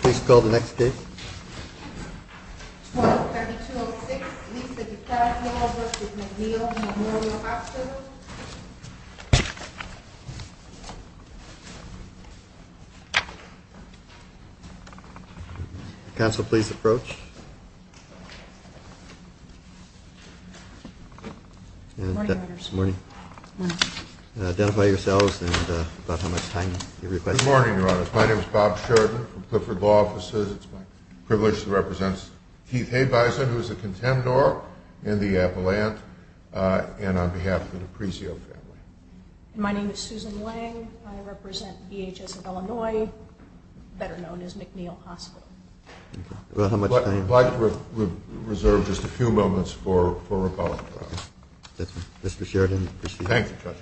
Please call the next case. 12-3206 Lisa Gutiérrez de Alvarez v. MacNeal Memorial Hospital Counsel, please approach. Good morning, Your Honor. Good morning. Identify yourselves and about how much time you request. Good morning, Your Honor. My name is Bob Sheridan from Clifford Law Offices. It's my privilege to represent Keith Haibison, who is a contendor in the appellant, and on behalf of the D'Aprizio family. My name is Susan Wang. I represent DHS of Illinois, better known as MacNeal Hospital. About how much time? If I could reserve just a few moments for rebuttal, Your Honor. Mr. Sheridan, proceed. Thank you, Judge.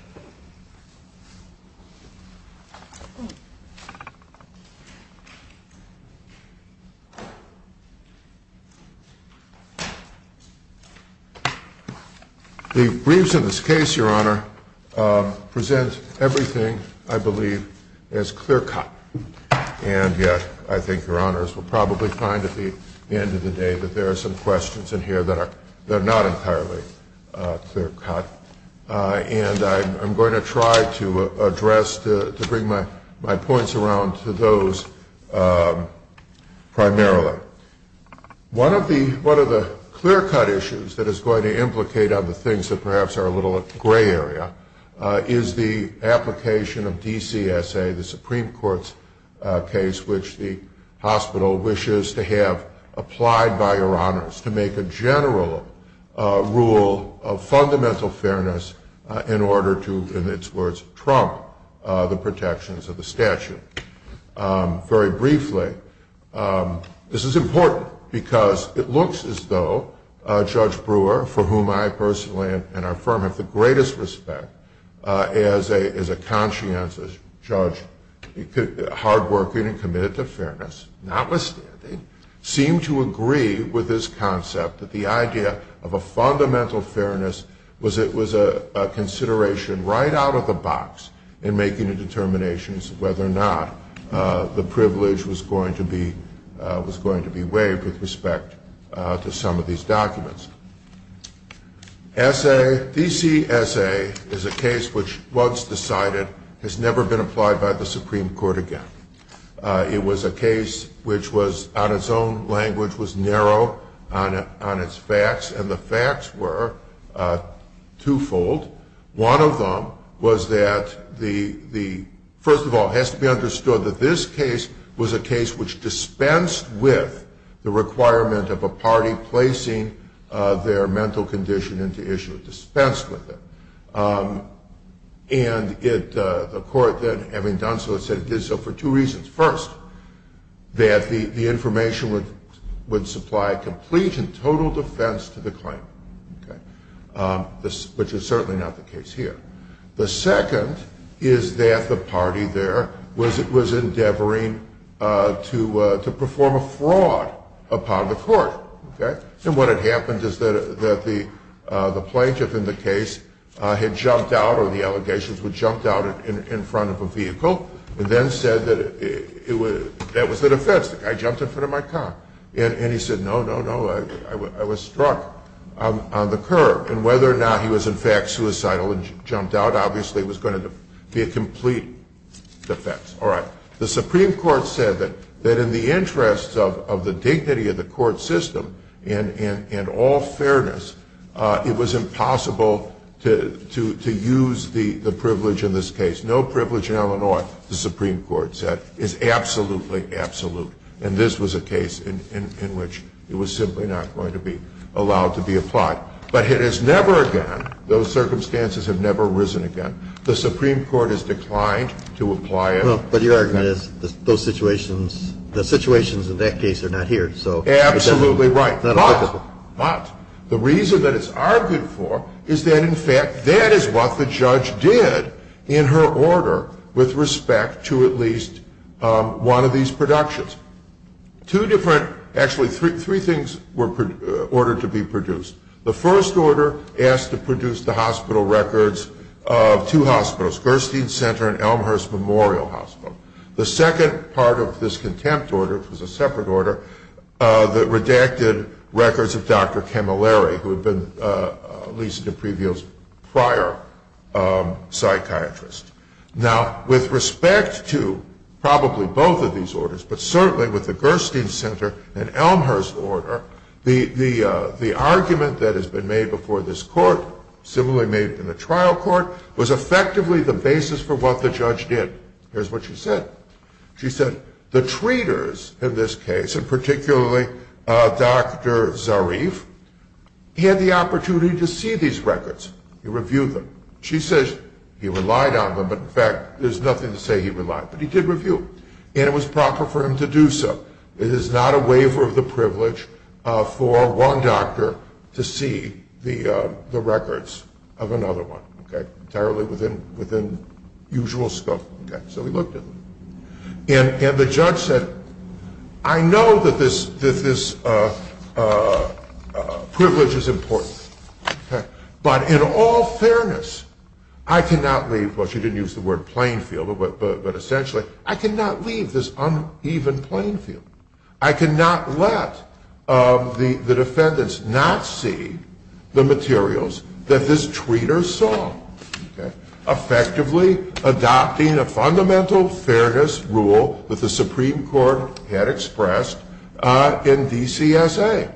12-3206 Lisa Gutiérrez de Alvarez v. MacNeal Memorial Hospital The briefs in this case, Your Honor, present everything, I believe, as clear-cut. And yet, I think Your Honors will probably find at the end of the day that there are some questions in here that are not entirely clear-cut. And I'm going to try to bring my points around to those primarily. One of the clear-cut issues that is going to implicate other things that perhaps are a little gray area is the application of DCSA, the Supreme Court's case which the hospital wishes to have applied by Your Honors to make a general rule of fundamental fairness in order to, in its words, trump the protections of the statute. Very briefly, this is important because it looks as though Judge Brewer, for whom I personally and our firm have the greatest respect as a conscientious judge, hardworking and committed to fairness, notwithstanding, seemed to agree with this concept that the idea of a fundamental fairness was a consideration right out of the box in making a determination as to whether or not the privilege was going to be waived with respect to some of these documents. DCSA is a case which, once decided, has never been applied by the Supreme Court again. It was a case which was, on its own language, was narrow on its facts, and the facts were twofold. One of them was that the... First of all, it has to be understood that this case was a case which dispensed with the requirement of a party placing their mental condition into issue, dispensed with it. And the court then, having done so, it said it did so for two reasons. First, that the information would supply complete and total defense to the claim, which is certainly not the case here. The second is that the party there was endeavoring to perform a fraud upon the court. And what had happened is that the plaintiff in the case had jumped out, or the allegations were jumped out in front of a vehicle, and then said that that was the defense. The guy jumped in front of my car. And he said, no, no, no, I was struck on the curb. And whether or not he was in fact suicidal and jumped out obviously was going to be a complete defense. All right. The Supreme Court said that in the interest of the dignity of the court system and all fairness, it was impossible to use the privilege in this case. No privilege in Illinois, the Supreme Court said, is absolutely absolute. And this was a case in which it was simply not going to be allowed to be applied. But it has never again, those circumstances have never arisen again, the Supreme Court has declined to apply it. But your argument is those situations, the situations in that case are not here. Absolutely right. But the reason that it's argued for is that, in fact, that is what the judge did in her order with respect to at least one of these productions. The first order asked to produce the hospital records of two hospitals, Gerstein Center and Elmhurst Memorial Hospital. The second part of this contempt order, which was a separate order, that redacted records of Dr. Camilleri, who had been Lisa DiPrevio's prior psychiatrist. Now, with respect to probably both of these orders, but certainly with the Gerstein Center and Elmhurst order, the argument that has been made before this court, similarly made in the trial court, was effectively the basis for what the judge did. Here's what she said. She said, the treaters in this case, and particularly Dr. Zarif, had the opportunity to see these records. He reviewed them. She says he relied on them, but in fact, there's nothing to say he relied. But he did review them. And it was proper for him to do so. It is not a waiver of the privilege for one doctor to see the records of another one. Entirely within usual scope. So he looked at them. And the judge said, I know that this privilege is important. But in all fairness, I cannot leave, well, she didn't use the word plain field, but essentially, I cannot leave this uneven plain field. I cannot let the defendants not see the materials that this treater saw. Effectively adopting a fundamental fairness rule that the Supreme Court had expressed in DCSA.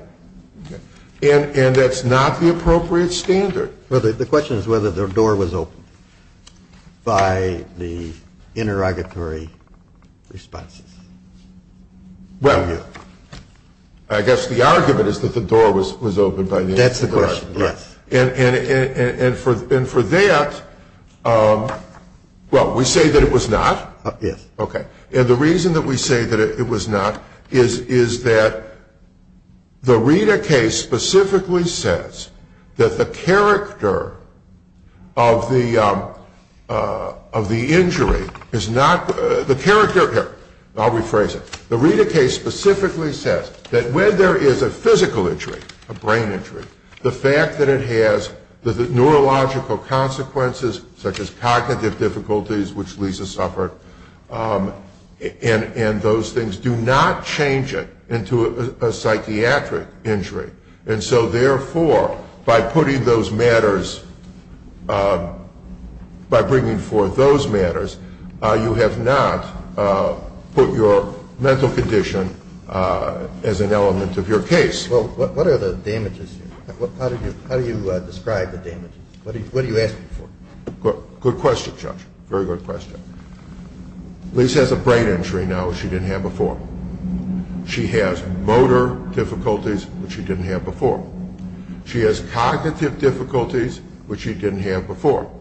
And that's not the appropriate standard. Well, the question is whether the door was opened by the interrogatory responses. Well, yeah. I guess the argument is that the door was opened by the interrogator. That's the question, yes. And for that, well, we say that it was not. Yes. Okay. And the reason that we say that it was not is that the Rita case specifically says that the character of the injury is not, the character, I'll rephrase it. The Rita case specifically says that when there is a physical injury, a brain injury, the fact that it has the neurological consequences, such as cognitive difficulties, which Lisa suffered, and those things do not change it into a psychiatric injury. And so, therefore, by putting those matters, by bringing forth those matters, you have not put your mental condition as an element of your case. Well, what are the damages here? How do you describe the damages? What are you asking for? Good question, Judge. Very good question. Lisa has a brain injury now, which she didn't have before. She has motor difficulties, which she didn't have before. She has cognitive difficulties, which she didn't have before.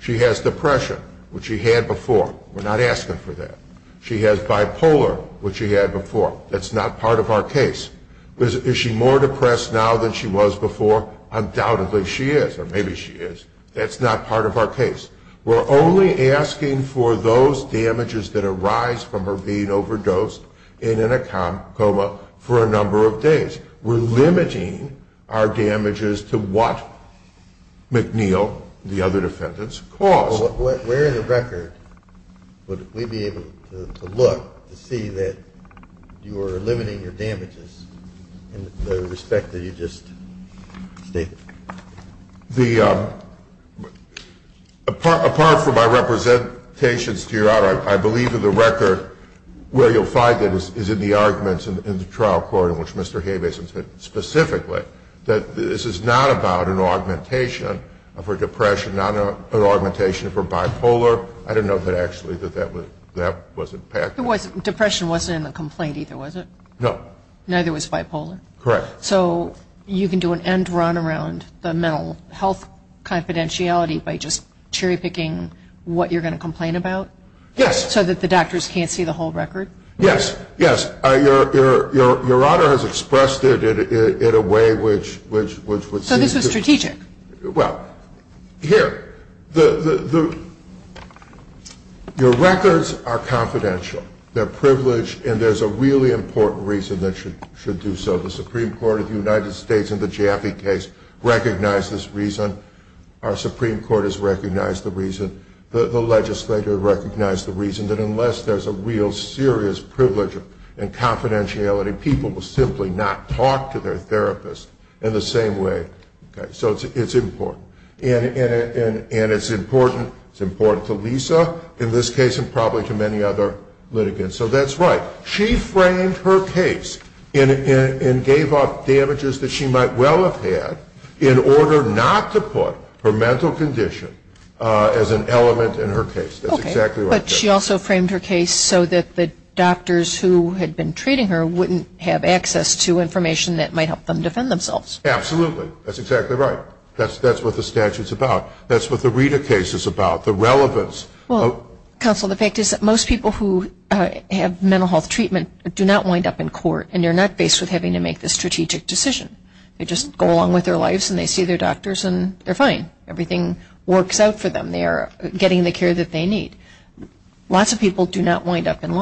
She has depression, which she had before. We're not asking for that. She has bipolar, which she had before. That's not part of our case. Is she more depressed now than she was before? Undoubtedly she is, or maybe she is. That's not part of our case. We're only asking for those damages that arise from her being overdosed and in a coma for a number of days. We're limiting our damages to what McNeil, the other defendants, caused. Where in the record would we be able to look to see that you are limiting your damages in the respect that you just stated? Apart from my representations to Your Honor, I believe in the record where you'll find that is in the arguments in the trial court, in which Mr. Haybasin said specifically that this is not about an augmentation of her depression, not an augmentation of her bipolar. I don't know that actually that that was impacted. Depression wasn't in the complaint either, was it? No. Neither was bipolar? Correct. So you can do an end run around the mental health confidentiality by just cherry-picking what you're going to complain about? Yes. So that the doctors can't see the whole record? Yes, yes. Your Honor has expressed it in a way which would seem to... So this was strategic? Well, here, your records are confidential. They're privileged, and there's a really important reason that should do so. The Supreme Court of the United States in the Jaffe case recognized this reason. Our Supreme Court has recognized the reason. The legislature recognized the reason that unless there's a real serious privilege in confidentiality, people will simply not talk to their therapist in the same way. So it's important. And it's important to Lisa, in this case, and probably to many other litigants. So that's right. She framed her case and gave up damages that she might well have had in order not to put her mental condition as an element in her case. That's exactly right. But she also framed her case so that the doctors who had been treating her wouldn't have access to information that might help them defend themselves. Absolutely. That's exactly right. That's what the statute's about. That's what the Rita case is about, the relevance. Counsel, the fact is that most people who have mental health treatment do not wind up in court, and they're not faced with having to make the strategic decision. They just go along with their lives, and they see their doctors, and they're fine. Everything works out for them. They are getting the care that they need. Lots of people do not wind up in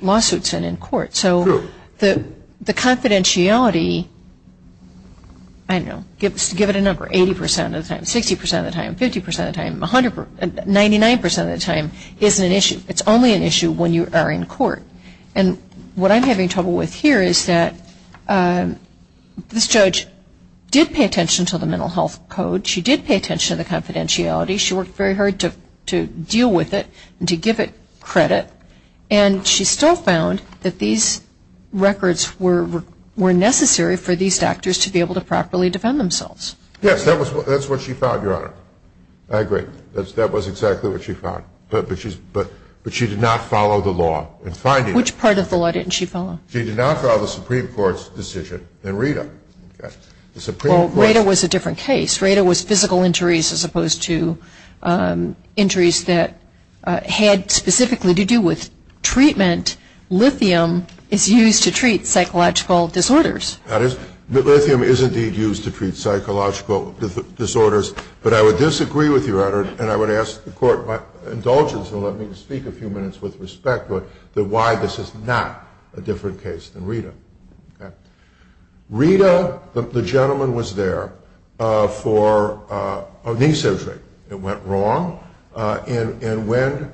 lawsuits and in court. True. The confidentiality, I don't know, give it a number, 80% of the time, 60% of the time, 50% of the time, 99% of the time is an issue. It's only an issue when you are in court. And what I'm having trouble with here is that this judge did pay attention to the mental health code. She did pay attention to the confidentiality. She worked very hard to deal with it and to give it credit. And she still found that these records were necessary for these doctors to be able to properly defend themselves. Yes, that's what she found, Your Honor. I agree. That was exactly what she found. But she did not follow the law in finding it. Which part of the law didn't she follow? She did not follow the Supreme Court's decision in Rita. Well, Rita was a different case. Rita was physical injuries as opposed to injuries that had specifically to do with treatment. Lithium is used to treat psychological disorders. That is, lithium is indeed used to treat psychological disorders. But I would disagree with you, Your Honor, and I would ask the Court, by indulgence, and let me speak a few minutes with respect to it, that why this is not a different case than Rita. Rita, the gentleman was there for a knee surgery. It went wrong. And when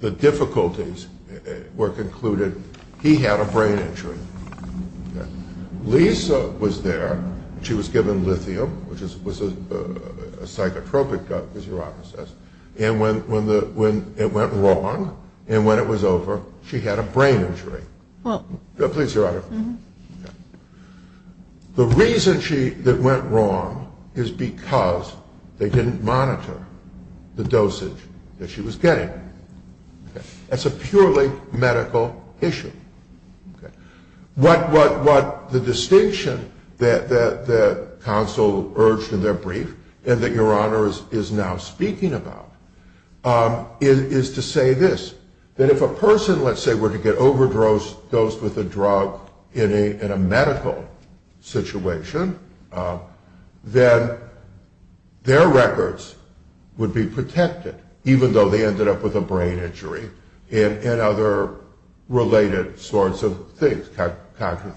the difficulties were concluded, he had a brain injury. Lisa was there. She was given lithium, which was a psychotropic drug, as Your Honor says. And when it went wrong and when it was over, she had a brain injury. Please, Your Honor. The reason that went wrong is because they didn't monitor the dosage that she was getting. That's a purely medical issue. What the distinction that counsel urged in their brief and that Your Honor is now speaking about is to say this, that if a person, let's say, were to get overdosed with a drug in a medical situation, then their records would be protected, even though they ended up with a brain injury and other related sorts of things.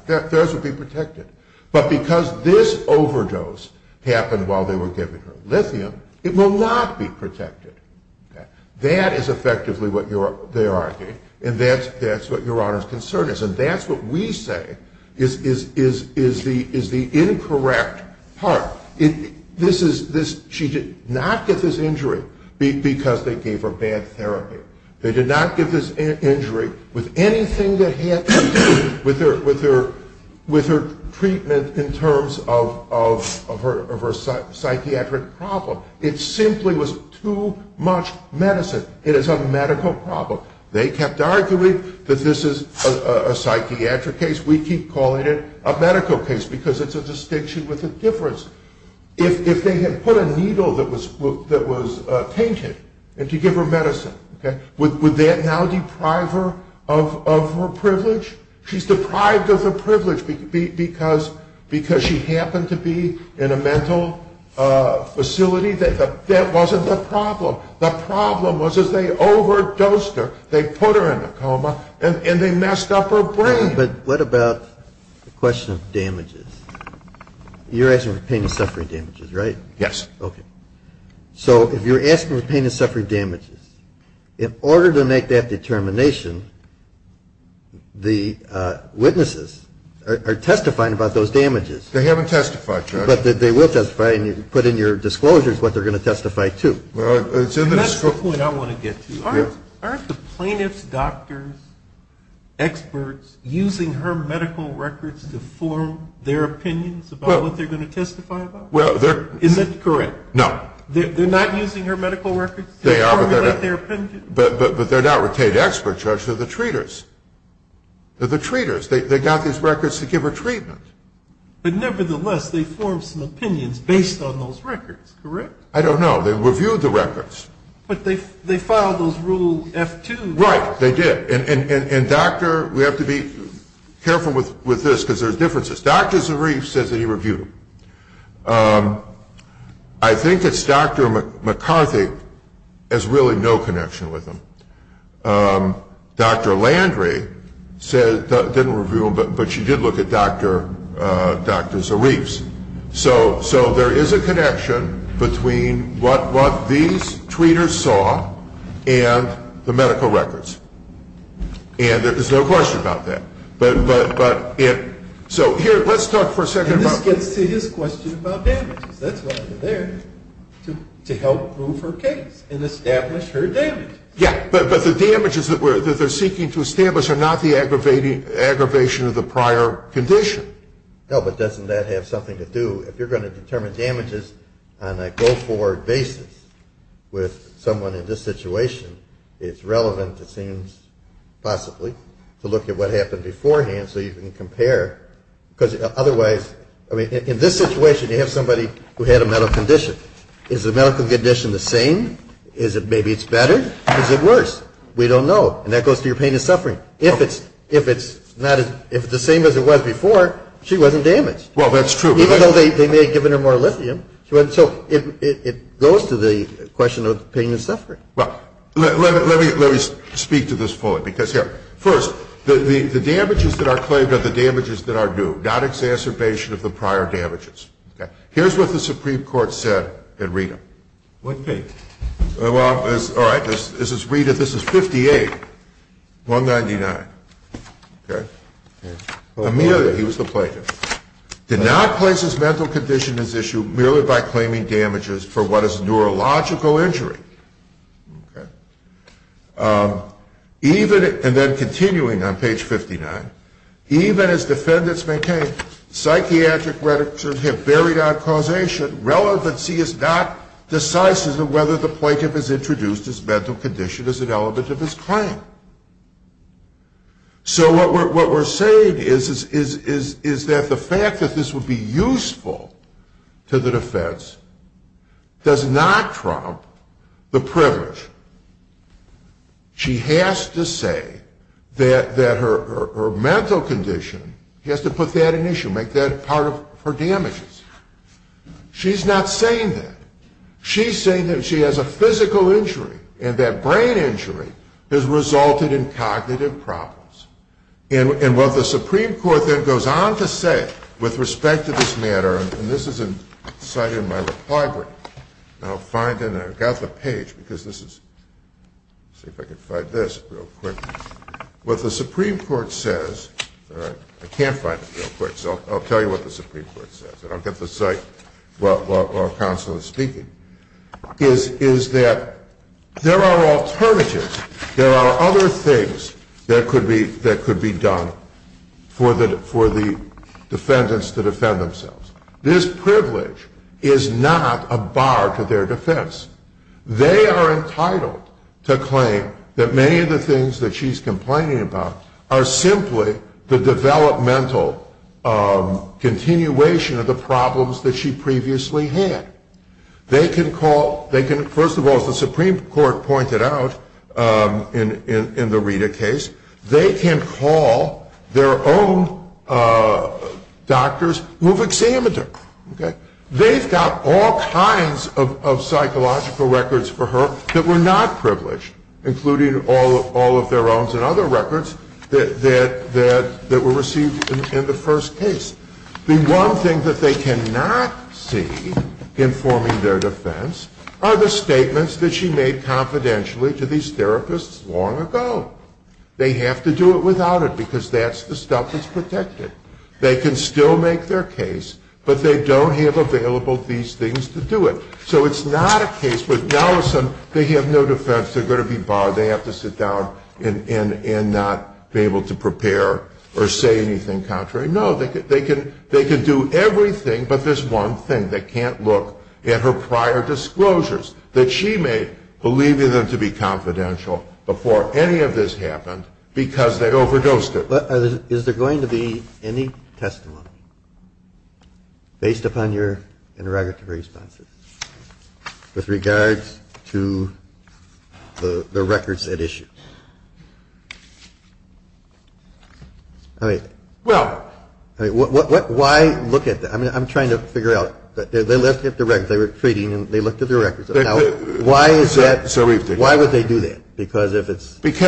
Theirs would be protected. But because this overdose happened while they were giving her lithium, it will not be protected. That is effectively what they're arguing, and that's what Your Honor's concern is. And that's what we say is the incorrect part. She did not get this injury because they gave her bad therapy. They did not give this injury with anything that had to do with her treatment in terms of her psychiatric problem. It simply was too much medicine. It is a medical problem. They kept arguing that this is a psychiatric case. We keep calling it a medical case because it's a distinction with a difference. If they had put a needle that was painted to give her medicine, would that now deprive her of her privilege? She's deprived of her privilege because she happened to be in a mental facility. That wasn't the problem. The problem was as they overdosed her, they put her in a coma, and they messed up her brain. But what about the question of damages? You're asking for pain and suffering damages, right? Yes. Okay. So if you're asking for pain and suffering damages, in order to make that determination, the witnesses are testifying about those damages. They haven't testified, Judge. But they will testify, and you can put in your disclosures what they're going to testify to. That's the point I want to get to. Aren't the plaintiff's doctors experts using her medical records to form their opinions about what they're going to testify about? Isn't that correct? No. They're not using her medical records to formulate their opinions? But they're not retained experts, Judge. They're the treaters. They're the treaters. They got these records to give her treatment. But nevertheless, they formed some opinions based on those records, correct? I don't know. They reviewed the records. But they filed those Rule F2. Right. They did. And, Doctor, we have to be careful with this because there's differences. Dr. Zarif says that he reviewed them. I think it's Dr. McCarthy has really no connection with them. Dr. Landry didn't review them, but she did look at Dr. Zarif's. So there is a connection between what these treaters saw and the medical records. And there's no question about that. So here, let's talk for a second. And this gets to his question about damages. That's why we're there, to help prove her case and establish her damages. Yeah, but the damages that they're seeking to establish are not the aggravation of the prior condition. No, but doesn't that have something to do? If you're going to determine damages on a go-forward basis with someone in this situation, it's relevant, it seems, possibly, to look at what happened beforehand so you can compare. Because otherwise, I mean, in this situation, you have somebody who had a medical condition. Is the medical condition the same? Maybe it's better. Is it worse? We don't know. And that goes to your pain and suffering. If it's the same as it was before, she wasn't damaged. Well, that's true. Even though they may have given her more lithium. So it goes to the question of pain and suffering. Well, let me speak to this fully. Because, here, first, the damages that are claimed are the damages that are due, not exacerbation of the prior damages. Here's what the Supreme Court said at Rita. What date? Well, all right, this is Rita. This is 58, 199. Okay? Amelia, he was the plaintiff, did not place his mental condition at issue merely by claiming damages for what is neurological injury. Okay? Even, and then continuing on page 59, even as defendants maintain, psychiatric redictions have buried out causation, relevancy is not decisive in whether the plaintiff has introduced his mental condition as an element of his claim. So what we're saying is that the fact that this would be useful to the defense does not trump the privilege. She has to say that her mental condition, she has to put that in issue, make that part of her damages. She's not saying that. She's saying that she has a physical injury, and that brain injury has resulted in cognitive problems. And what the Supreme Court then goes on to say with respect to this matter, and this is a site in my library, and I'll find it, and I've got the page, because this is, let's see if I can find this real quick. What the Supreme Court says, all right, I can't find it real quick, so I'll tell you what the Supreme Court says. I'll get the site while counsel is speaking, is that there are alternatives, there are other things that could be done for the defendants to defend themselves. This privilege is not a bar to their defense. They are entitled to claim that many of the things that she's complaining about are simply the developmental continuation of the problems that she previously had. They can call, first of all, as the Supreme Court pointed out in the Rita case, they can call their own doctors who have examined her. They've got all kinds of psychological records for her that were not privileged, including all of their own and other records that were received in the first case. The one thing that they cannot see in forming their defense are the statements that she made confidentially to these therapists long ago. They have to do it without it, because that's the stuff that's protected. They can still make their case, but they don't have available these things to do it. So it's not a case where now they have no defense, they're going to be barred, they have to sit down and not be able to prepare or say anything contrary. No, they can do everything, but there's one thing. They can't look at her prior disclosures that she made, believing them to be confidential before any of this happened because they overdosed it. But is there going to be any testimony, based upon your interrogative responses, with regards to the records at issue? I mean, why look at that? I mean, I'm trying to figure out. They looked at the records. They were treating and they looked at the records. Why is that? Why would they do that? Because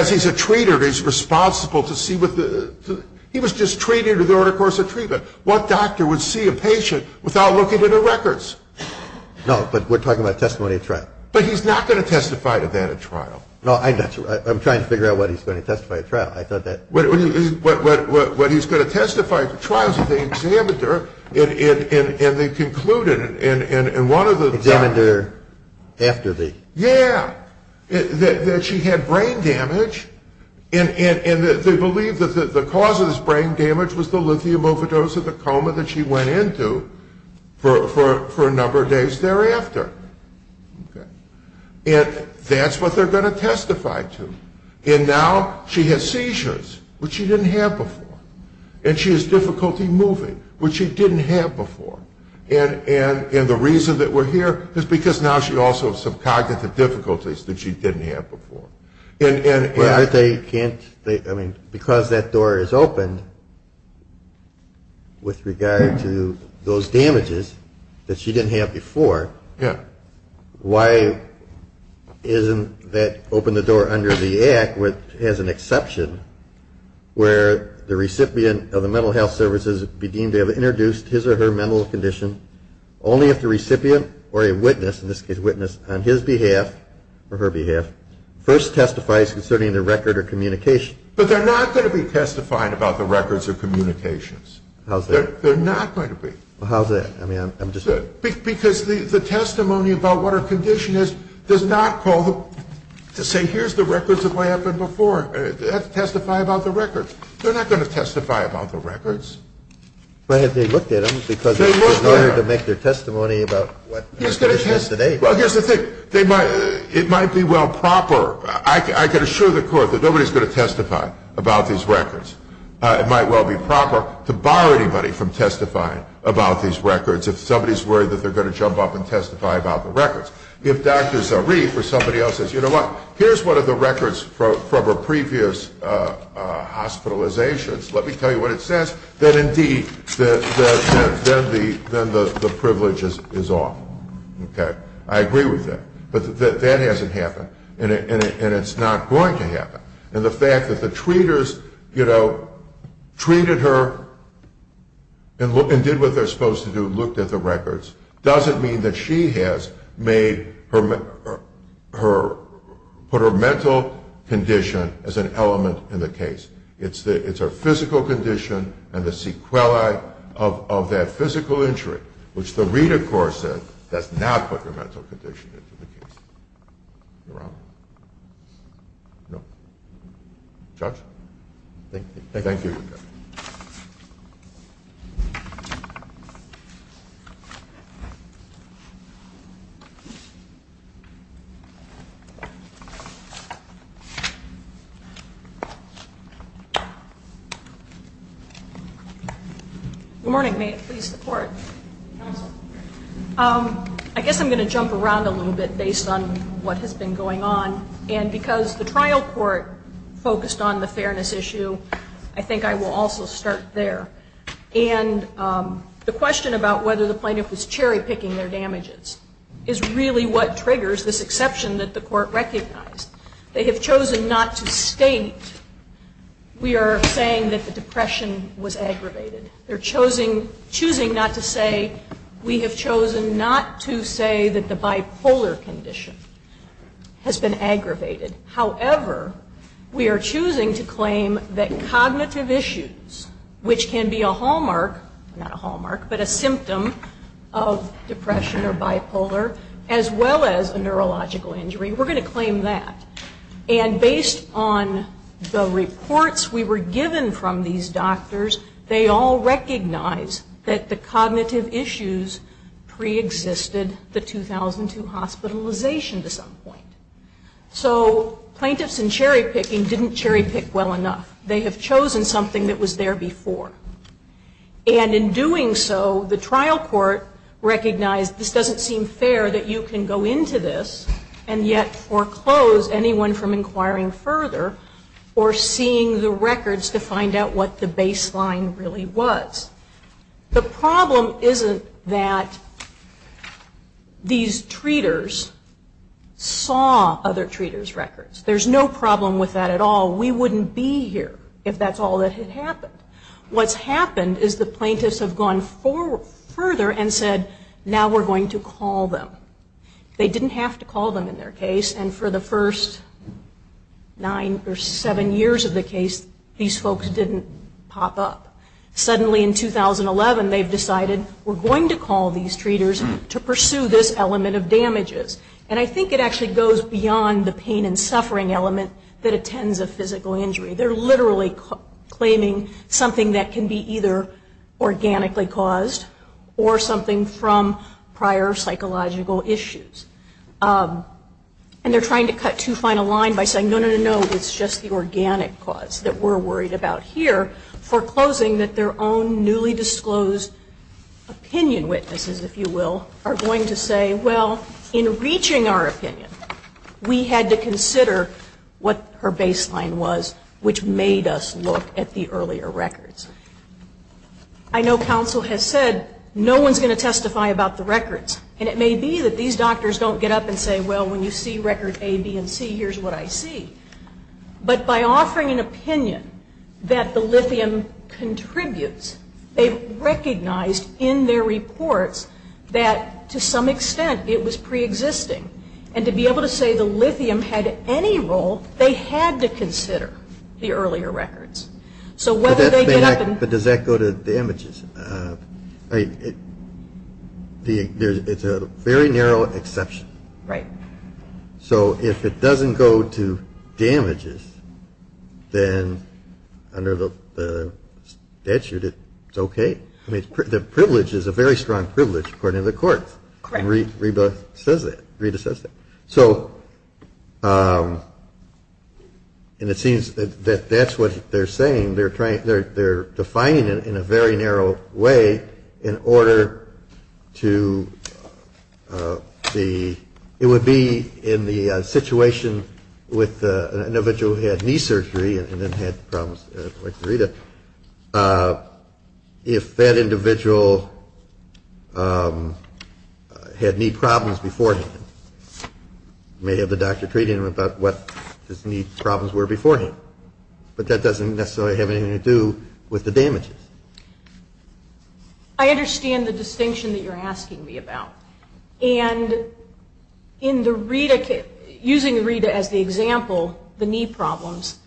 he's a treater. He's responsible to see what the... He was just treating her during the course of treatment. What doctor would see a patient without looking at her records? No, but we're talking about testimony at trial. But he's not going to testify to that at trial. No, I'm trying to figure out what he's going to testify at trial. I thought that... What he's going to testify at trial is that the examiner, and they concluded in one of the... Examiner after the... Yeah, that she had brain damage. And they believe that the cause of this brain damage was the lithium overdose and the coma that she went into for a number of days thereafter. And that's what they're going to testify to. And now she has seizures, which she didn't have before. And she has difficulty moving, which she didn't have before. And the reason that we're here is because now she also has some cognitive difficulties that she didn't have before. But they can't... I mean, because that door is open with regard to those damages that she didn't have before, why isn't that open the door under the Act, which has an exception, where the recipient of the mental health services be deemed to have introduced his or her mental condition only if the recipient or a witness, in this case witness on his behalf or her behalf, first testifies concerning the record or communication. But they're not going to be testifying about the records or communications. How's that? They're not going to be. Well, how's that? I mean, I'm just... Because the testimony about what her condition is does not call to say, here's the records of what happened before. They have to testify about the records. They're not going to testify about the records. But have they looked at them because in order to make their testimony about what her condition is today? Well, here's the thing. It might be well proper. I can assure the Court that nobody's going to testify about these records. It might well be proper to bar anybody from testifying about these records if somebody's worried that they're going to jump up and testify about the records. If Dr. Zarif or somebody else says, you know what? Here's one of the records from her previous hospitalizations. Let me tell you what it says. That, indeed, then the privilege is off. Okay? I agree with that. But that hasn't happened. And it's not going to happen. And the fact that the treaters, you know, treated her and did what they're supposed to do, looked at the records, doesn't mean that she has put her mental condition as an element in the case. It's her physical condition and the sequelae of that physical injury, which the reader, of course, does not put her mental condition into the case. Am I wrong? Judge? Thank you. Thank you. Good morning. May it please the Court. Counsel. I guess I'm going to jump around a little bit based on what has been going on. And because the trial court focused on the fairness issue, I think I will also start there. And the question about whether the plaintiff was cherry-picking their damages is really what triggers this exception that the Court recognized. They have chosen not to state we are saying that the depression was aggravated. They're choosing not to say we have chosen not to say that the bipolar condition has been aggravated. However, we are choosing to claim that cognitive issues, which can be a hallmark, not a hallmark, but a symptom of depression or bipolar, as well as a neurological injury, we're going to claim that. And based on the reports we were given from these doctors, they all recognize that the cognitive issues preexisted the 2002 hospitalization to some point. So plaintiffs in cherry-picking didn't cherry-pick well enough. They have chosen something that was there before. And in doing so, the trial court recognized this doesn't seem fair that you can go into this and yet foreclose anyone from inquiring further or seeing the records to find out what the baseline really was. The problem isn't that these treaters saw other treaters' records. There's no problem with that at all. We wouldn't be here if that's all that had happened. What's happened is the plaintiffs have gone further and said, now we're going to call them. They didn't have to call them in their case. And for the first nine or seven years of the case, these folks didn't pop up. Suddenly in 2011, they've decided we're going to call these treaters to pursue this element of damages. And I think it actually goes beyond the pain and suffering element that attends a physical injury. They're literally claiming something that can be either organically caused or something from prior psychological issues. And they're trying to cut too fine a line by saying, no, no, no, no, it's just the organic cause that we're worried about here, foreclosing that their own newly disclosed opinion witnesses, if you will, are going to say, well, in reaching our opinion, we had to consider what her baseline was, which made us look at the earlier records. I know counsel has said no one's going to testify about the records. And it may be that these doctors don't get up and say, well, when you see record A, B, and C, here's what I see. But by offering an opinion that the lithium contributes, they've recognized in their reports that to some extent it was preexisting. And to be able to say the lithium had any role, they had to consider the earlier records. So whether they get up and – But does that go to damages? I mean, it's a very narrow exception. Right. So if it doesn't go to damages, then under the statute, it's okay. I mean, the privilege is a very strong privilege according to the courts. Correct. Reba says that. Rita says that. So – and it seems that that's what they're saying. They're trying – they're defining it in a very narrow way in order to the – it would be in the situation with an individual who had knee surgery and then had problems like Rita. If that individual had knee problems beforehand, you may have the doctor treating him about what his knee problems were beforehand. But that doesn't necessarily have anything to do with the damages. I understand the distinction that you're asking me about. And in the Rita – using Rita as the example, the knee problems,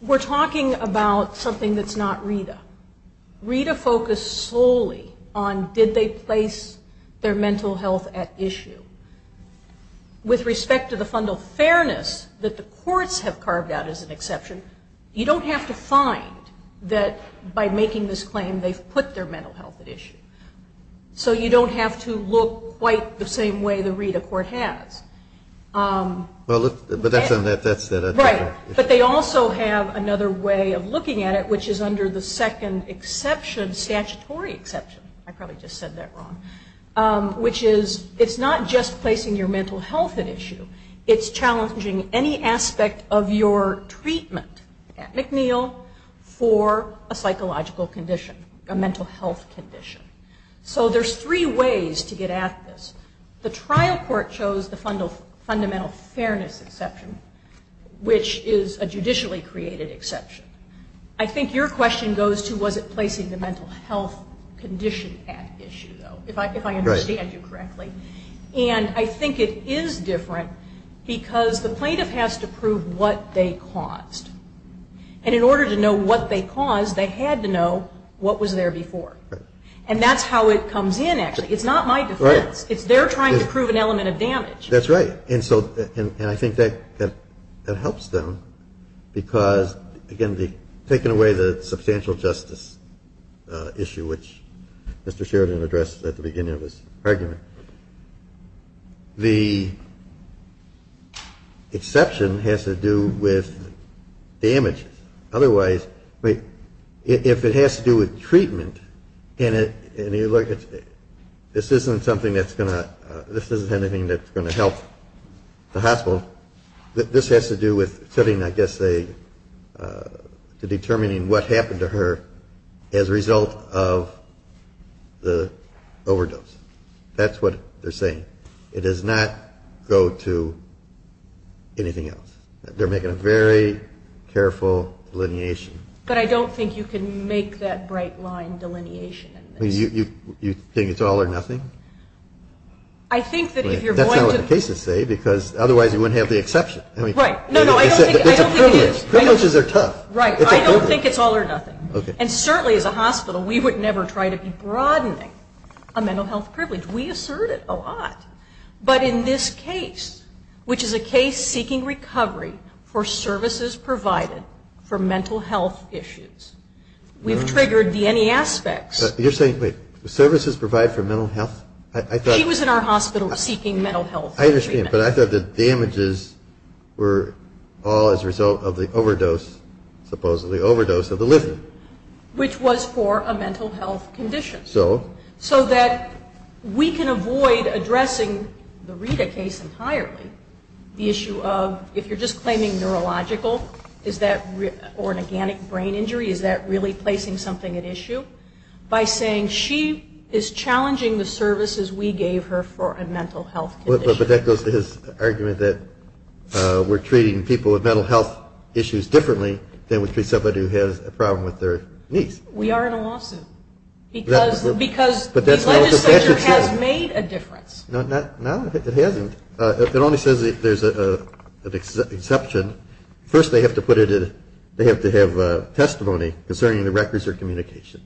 we're talking about something that's not Rita. Rita focused solely on did they place their mental health at issue. With respect to the fundal fairness that the courts have carved out as an exception, you don't have to find that by making this claim they've put their mental health at issue. So you don't have to look quite the same way the Rita court has. But that's – Right. But they also have another way of looking at it, which is under the second exception, statutory exception. I probably just said that wrong. Which is it's not just placing your mental health at issue. It's challenging any aspect of your treatment at McNeil for a psychological condition, a mental health condition. So there's three ways to get at this. The trial court chose the fundamental fairness exception, which is a judicially created exception. I think your question goes to was it placing the mental health condition at issue, though, if I understand you correctly. Right. And I think it is different because the plaintiff has to prove what they caused. And in order to know what they caused, they had to know what was there before. Right. And that's how it comes in, actually. It's not my defense. Right. It's they're trying to prove an element of damage. That's right. And so – and I think that helps them because, again, taking away the substantial justice issue, which Mr. Sheridan addressed at the beginning of his argument, the exception has to do with damage. Otherwise, if it has to do with treatment and you look at – this isn't something that's going to – this isn't anything that's going to help the hospital. This has to do with setting, I guess, a – determining what happened to her as a result of the overdose. That's what they're saying. It does not go to anything else. They're making a very careful delineation. But I don't think you can make that bright line delineation in this. You think it's all or nothing? I think that if you're going to – Right. No, no. I don't think it is. Privileges are tough. Right. I don't think it's all or nothing. Okay. And certainly, as a hospital, we would never try to be broadening a mental health privilege. We assert it a lot. But in this case, which is a case seeking recovery for services provided for mental health issues, we've triggered the NE aspects. You're saying – wait. Services provided for mental health? I thought – She was in our hospital seeking mental health treatment. I understand. But I thought the damages were all as a result of the overdose, supposedly, overdose of the liver. Which was for a mental health condition. So? So that we can avoid addressing the Rita case entirely, the issue of if you're just claiming neurological, is that – or an organic brain injury, is that really placing something at issue? By saying she is challenging the services we gave her for a mental health condition. But that goes to his argument that we're treating people with mental health issues differently than we treat somebody who has a problem with their knees. We are in a lawsuit. Because the legislature has made a difference. No, it hasn't. It only says there's an exception. First, they have to put it in – they have to have testimony concerning the records or communication.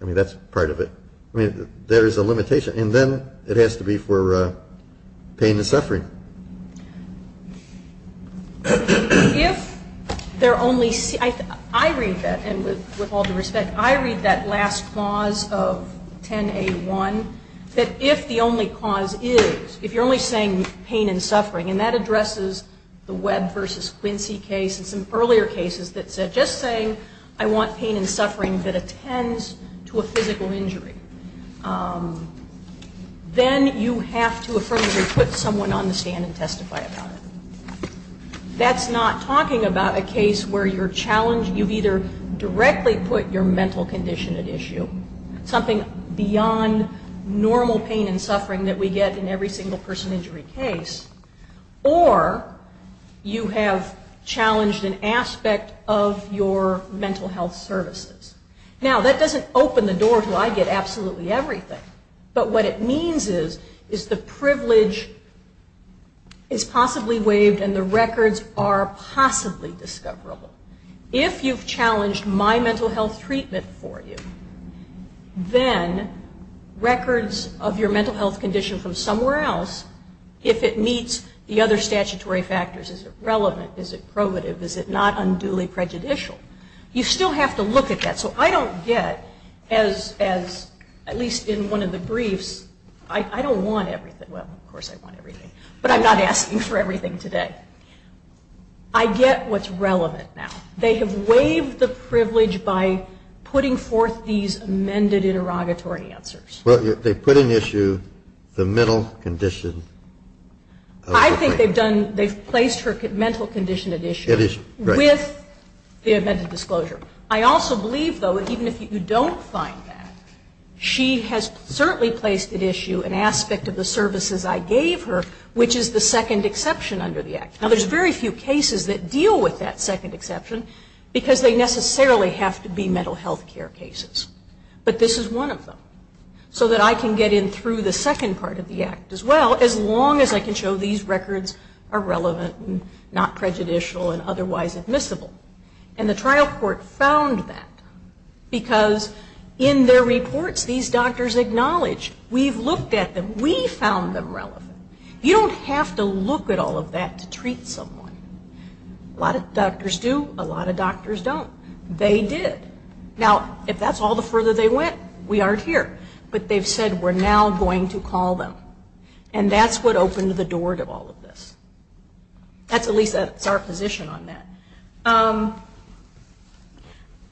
I mean, that's part of it. I mean, there is a limitation. And then it has to be for pain and suffering. If there are only – I read that, and with all due respect, I read that last clause of 10A1, that if the only cause is – if you're only saying pain and suffering, and that addresses the Webb versus Quincy case and some earlier cases that said, I'm just saying I want pain and suffering that attends to a physical injury, then you have to affirmatively put someone on the stand and testify about it. That's not talking about a case where you're challenging – you've either directly put your mental condition at issue, something beyond normal pain and suffering that we get in every single person injury case, or you have challenged an aspect of your mental health services. Now, that doesn't open the door to I get absolutely everything. But what it means is, is the privilege is possibly waived and the records are possibly discoverable. If you've challenged my mental health treatment for you, then records of your mental health condition from somewhere else, if it meets the other statutory factors, is it relevant, is it probative, is it not unduly prejudicial? You still have to look at that. So I don't get, as at least in one of the briefs, I don't want everything – well, of course I want everything, but I'm not asking for everything today. I get what's relevant now. They have waived the privilege by putting forth these amended interrogatory answers. Well, they put in issue the mental condition. I think they've done – they've placed her mental condition at issue with the amended disclosure. I also believe, though, that even if you don't find that, she has certainly placed at issue an aspect of the services I gave her, which is the second exception under the Act. Now, there's very few cases that deal with that second exception because they necessarily have to be mental health care cases. But this is one of them. So that I can get in through the second part of the Act as well as long as I can show these records are relevant and not prejudicial and otherwise admissible. And the trial court found that because in their reports, these doctors acknowledge, we've looked at them, we found them relevant. You don't have to look at all of that to treat someone. A lot of doctors do, a lot of doctors don't. They did. Now, if that's all the further they went, we aren't here. But they've said, we're now going to call them. And that's what opened the door to all of this. That's at least our position on that.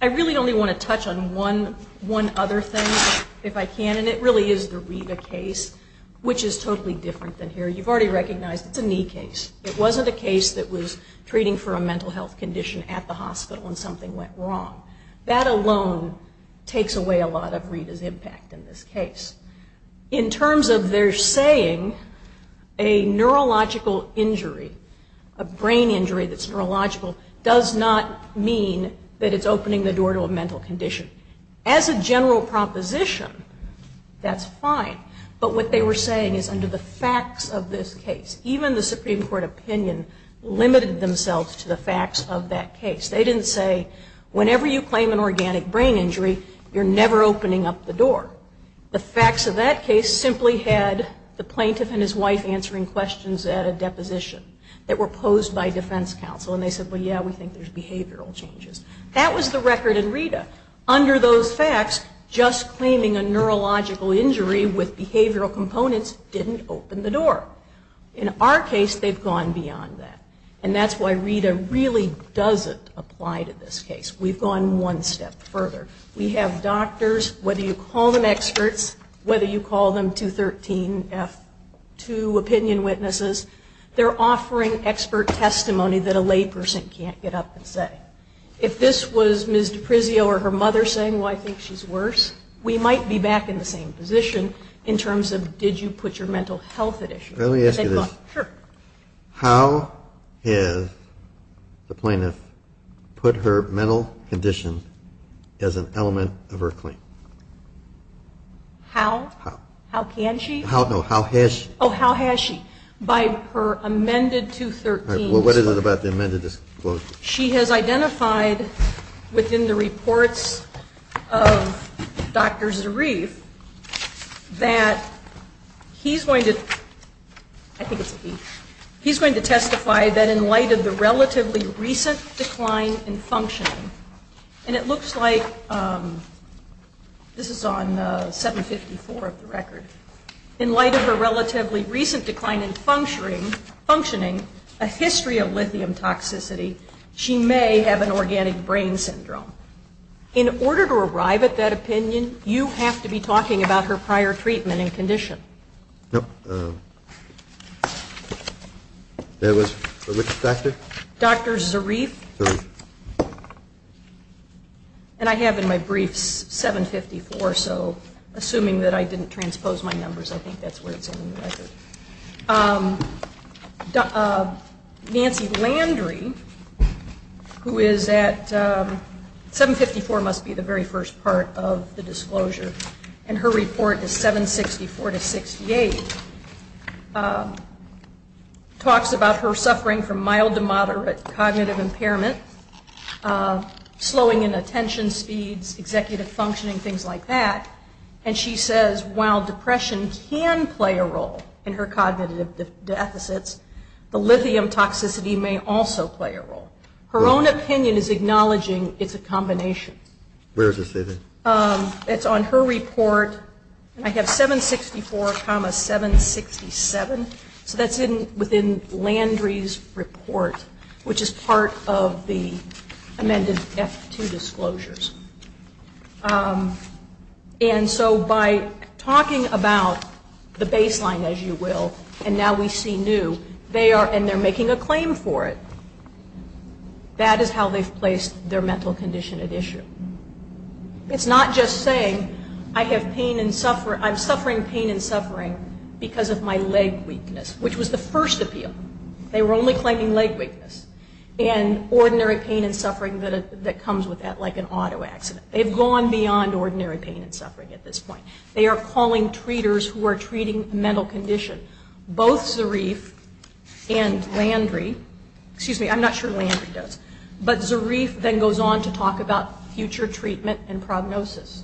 I really only want to touch on one other thing, if I can, and it really is the Rita case, which is totally different than here. You've already recognized it's a knee case. It wasn't a case that was treating for a mental health condition at the hospital and something went wrong. That alone takes away a lot of Rita's impact in this case. In terms of their saying, a neurological injury, a brain injury that's neurological, does not mean that it's opening the door to a mental condition. As a general proposition, that's fine. But what they were saying is under the facts of this case, even the Supreme Court opinion limited themselves to the facts of that case. They didn't say, whenever you claim an organic brain injury, you're never opening up the door. The facts of that case simply had the plaintiff and his wife answering questions at a deposition that were posed by defense counsel. And they said, well, yeah, we think there's behavioral changes. That was the record in Rita. Under those facts, just claiming a neurological injury with behavioral components didn't open the door. In our case, they've gone beyond that. And that's why Rita really doesn't apply to this case. We've gone one step further. We have doctors, whether you call them experts, whether you call them 213F2 opinion witnesses, they're offering expert testimony that a lay person can't get up and say. If this was Ms. DiPrizio or her mother saying, well, I think she's worse, we might be back in the same position in terms of, did you put your mental health at issue? Let me ask you this. Sure. How has the plaintiff put her mental condition as an element of her claim? How? How. How can she? No, how has she? Oh, how has she? By her amended 213. What is it about the amended disclosure? She has identified within the reports of Dr. Zarif that he's going to testify that in light of the relatively recent decline in functioning, and it looks like this is on 754 of the record, in light of her relatively recent decline in functioning, a history of lithium toxicity, she may have an organic brain syndrome. In order to arrive at that opinion, you have to be talking about her prior treatment and condition. Yep. That was for which doctor? Dr. Zarif. Zarif. And I have in my briefs 754, so assuming that I didn't transpose my numbers, I think that's where it's in the record. Nancy Landry, who is at 754 must be the very first part of the disclosure, and her report is 764 to 68, talks about her suffering from mild to moderate cognitive impairment, slowing in attention speeds, executive functioning, things like that, and she says while depression can play a role in her cognitive deficits, the lithium toxicity may also play a role. Her own opinion is acknowledging it's a combination. Where is it, Susan? It's on her report. I have 764, 767, so that's within Landry's report, which is part of the amended F2 disclosures. And so by talking about the baseline, as you will, and now we see new, and they're making a claim for it, that is how they've placed their mental condition at issue. It's not just saying I have pain and suffering. I'm suffering pain and suffering because of my leg weakness, which was the first appeal. They were only claiming leg weakness and ordinary pain and suffering that comes with that like an auto accident. They've gone beyond ordinary pain and suffering at this point. They are calling treaters who are treating a mental condition. Both Zarif and Landry, excuse me, I'm not sure Landry does, but Zarif then goes on to talk about future treatment and prognosis.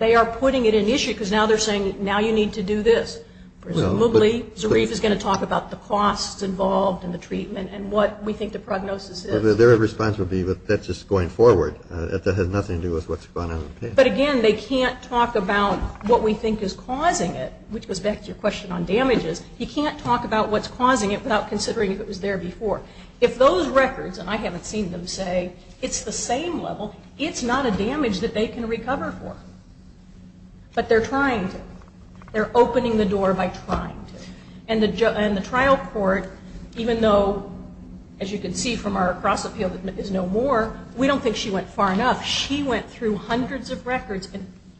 They are putting it in issue because now they're saying now you need to do this. Presumably Zarif is going to talk about the costs involved in the treatment and what we think the prognosis is. Their response would be that that's just going forward. That has nothing to do with what's going on with the pain. But again, they can't talk about what we think is causing it, which goes back to your question on damages. You can't talk about what's causing it without considering if it was there before. If those records, and I haven't seen them, say it's the same level, it's not a damage that they can recover for. But they're trying to. They're opening the door by trying to. And the trial court, even though, as you can see from our cross-appeal that there's no more, we don't think she went far enough. She went through hundreds of records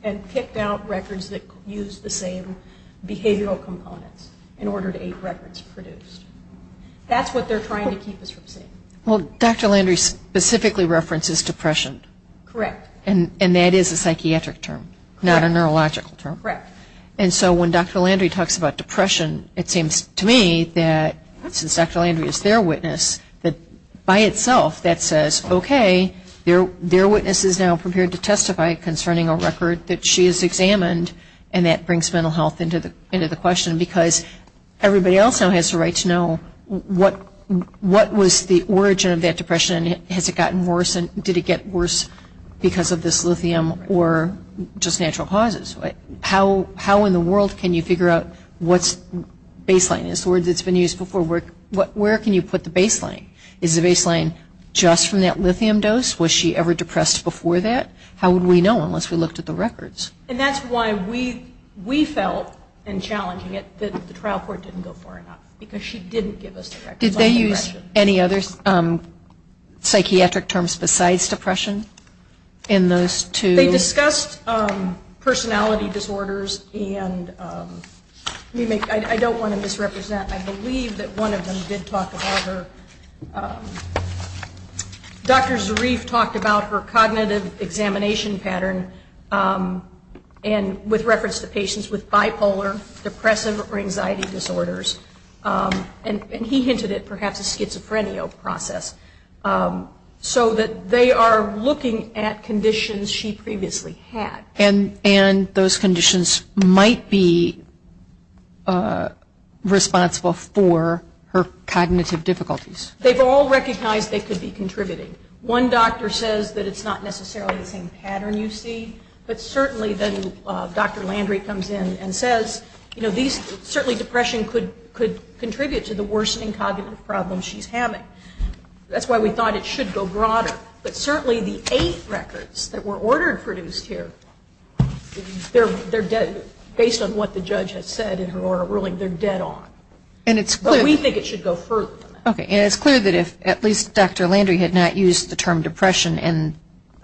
and picked out records that used the same behavioral components in order to get records produced. That's what they're trying to keep us from seeing. Well, Dr. Landry specifically references depression. Correct. And that is a psychiatric term, not a neurological term. Correct. And so when Dr. Landry talks about depression, it seems to me that since Dr. Landry is their witness, that by itself that says, okay, their witness is now prepared to testify concerning a record that she has examined, and that brings mental health into the question. Because everybody else now has a right to know what was the origin of that depression, and has it gotten worse, and did it get worse because of this lithium or just natural causes? How in the world can you figure out what's baseline? The word that's been used before, where can you put the baseline? Is the baseline just from that lithium dose? Was she ever depressed before that? How would we know unless we looked at the records? And that's why we felt in challenging it that the trial court didn't go far enough because she didn't give us the records. Did they use any other psychiatric terms besides depression in those two? They discussed personality disorders and I don't want to misrepresent. I believe that one of them did talk about her. Dr. Zarif talked about her cognitive examination pattern and with reference to patients with bipolar, depressive, or anxiety disorders. And he hinted at perhaps a schizophrenia process so that they are looking at conditions she previously had. And those conditions might be responsible for her cognitive difficulties. They've all recognized they could be contributing. One doctor says that it's not necessarily the same pattern you see, but certainly then Dr. Landry comes in and says, you know, certainly depression could contribute to the worsening cognitive problems she's having. That's why we thought it should go broader. But certainly the eight records that were ordered produced here, based on what the judge has said in her oral ruling, they're dead on. But we think it should go further than that. And it's clear that if at least Dr. Landry had not used the term depression and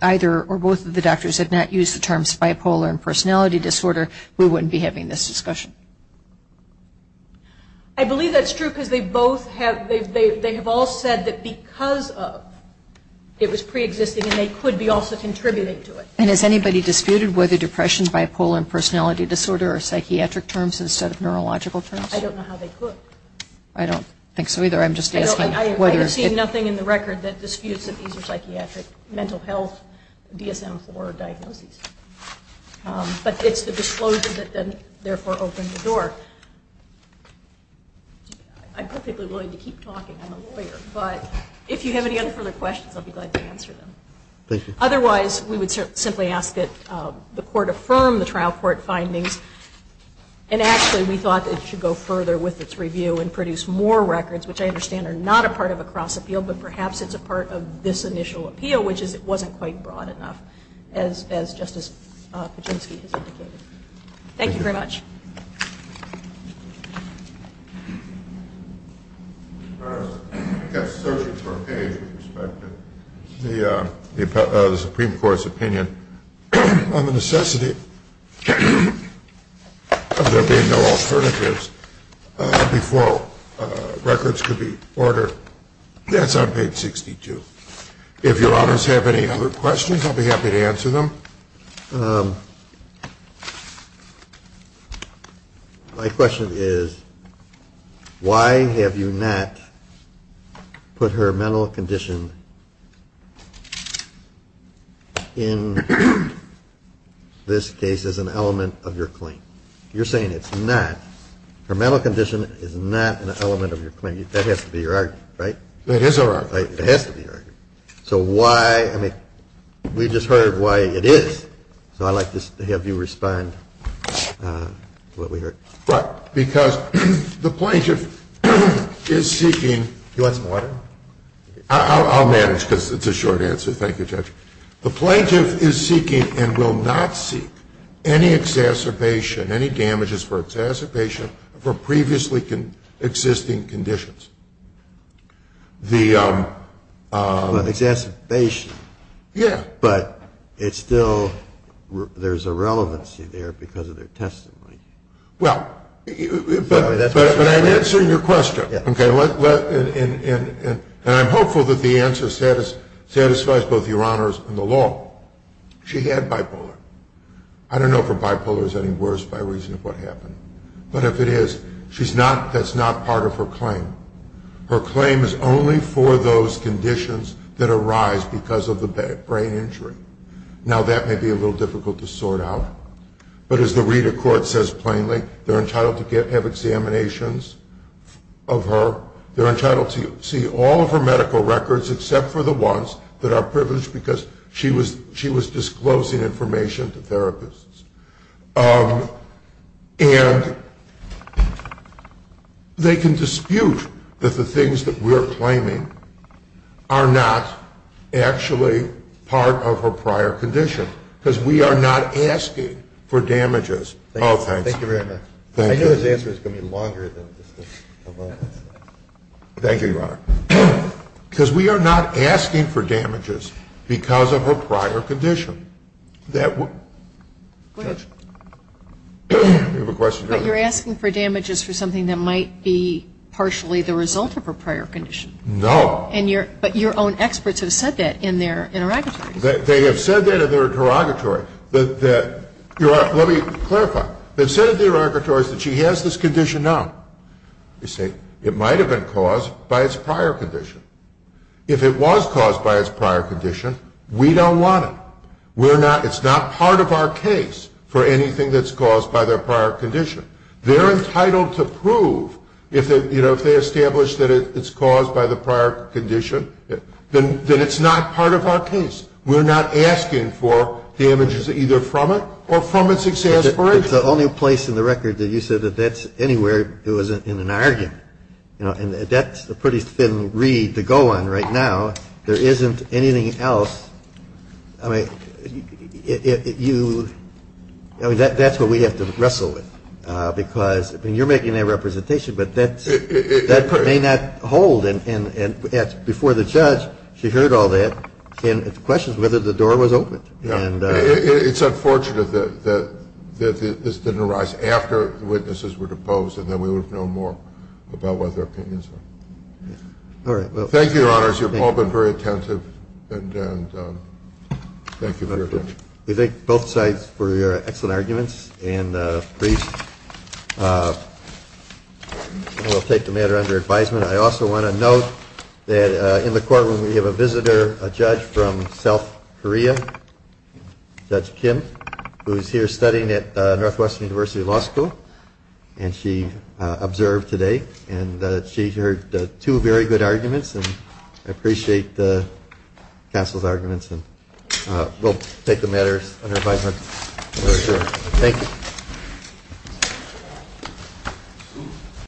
either or both of the doctors had not used the terms bipolar and personality disorder, we wouldn't be having this discussion. I believe that's true because they both have, they have all said that because of it was preexisting and they could be also contributing to it. And has anybody disputed whether depression, bipolar, and personality disorder are psychiatric terms instead of neurological terms? I don't know how they could. I don't think so either. I'm just asking whether. I have seen nothing in the record that disputes that these are psychiatric, mental health, DSM-IV diagnoses. But it's the disclosure that then therefore opened the door. I'm perfectly willing to keep talking. I'm a lawyer. But if you have any other further questions, I'll be glad to answer them. Otherwise, we would simply ask that the court affirm the trial court findings. And actually, we thought it should go further with its review and produce more records, which I understand are not a part of a cross-appeal, but perhaps it's a part of this initial appeal, which wasn't quite broad enough as Justice Kaczynski has indicated. Thank you very much. I was searching for a page with respect to the Supreme Court's opinion on the necessity of there being no alternatives before records could be ordered. That's on page 62. If Your Honors have any other questions, I'll be happy to answer them. My question is, why have you not put her mental condition in this case as an element of your claim? You're saying it's not. Her mental condition is not an element of your claim. That has to be your argument, right? It is our argument. It has to be our argument. So why, I mean, we just heard why it is, so I'd like to have you respond to what we heard. Right, because the plaintiff is seeking Do you want some water? I'll manage, because it's a short answer. Thank you, Judge. The plaintiff is seeking and will not seek any exacerbation, any damages for exacerbation for previously existing conditions. Exacerbation? Yeah. But it's still, there's a relevancy there because of their testimony. Well, but I'm answering your question. And I'm hopeful that the answer satisfies both Your Honors and the law. She had bipolar. I don't know if her bipolar is any worse by reason of what happened. But if it is, she's not, that's not part of her claim. Her claim is only for those conditions that arise because of the brain injury. Now that may be a little difficult to sort out. But as the reader court says plainly, they're entitled to have examinations of her. They're entitled to see all of her medical records except for the ones that are privileged because she was disclosing information to therapists. And they can dispute that the things that we're claiming are not actually part of her prior condition because we are not asking for damages. Oh, thanks. Thank you very much. I know his answer is going to be longer than this. Thank you, Your Honor. Because we are not asking for damages because of her prior condition. Judge? You have a question, Judge? But you're asking for damages for something that might be partially the result of her prior condition. No. But your own experts have said that in their interrogatories. They have said that in their interrogatory. Your Honor, let me clarify. They've said in the interrogatories that she has this condition now. They say it might have been caused by its prior condition. If it was caused by its prior condition, we don't want it. It's not part of our case for anything that's caused by their prior condition. They're entitled to prove if they establish that it's caused by the prior condition, that it's not part of our case. We're not asking for damages either from it or from its exasperation. It's the only place in the record that you said that that's anywhere it was in an argument. And that's a pretty thin reed to go on right now. There isn't anything else. I mean, that's what we have to wrestle with because, I mean, you're making that representation, but that may not hold. And before the judge, she heard all that, and the question is whether the door was opened. It's unfortunate that this didn't arise after the witnesses were deposed and then we would have known more about what their opinions were. Thank you, Your Honors. You've all been very attentive, and thank you for your time. We thank both sides for your excellent arguments, and we'll take the matter under advisement. I also want to note that in the courtroom we have a visitor, a judge from South Korea, Judge Kim, who is here studying at Northwestern University Law School, and she observed today, and she heard two very good arguments, and I appreciate the counsel's arguments, and we'll take the matters under advisement for sure. Thank you.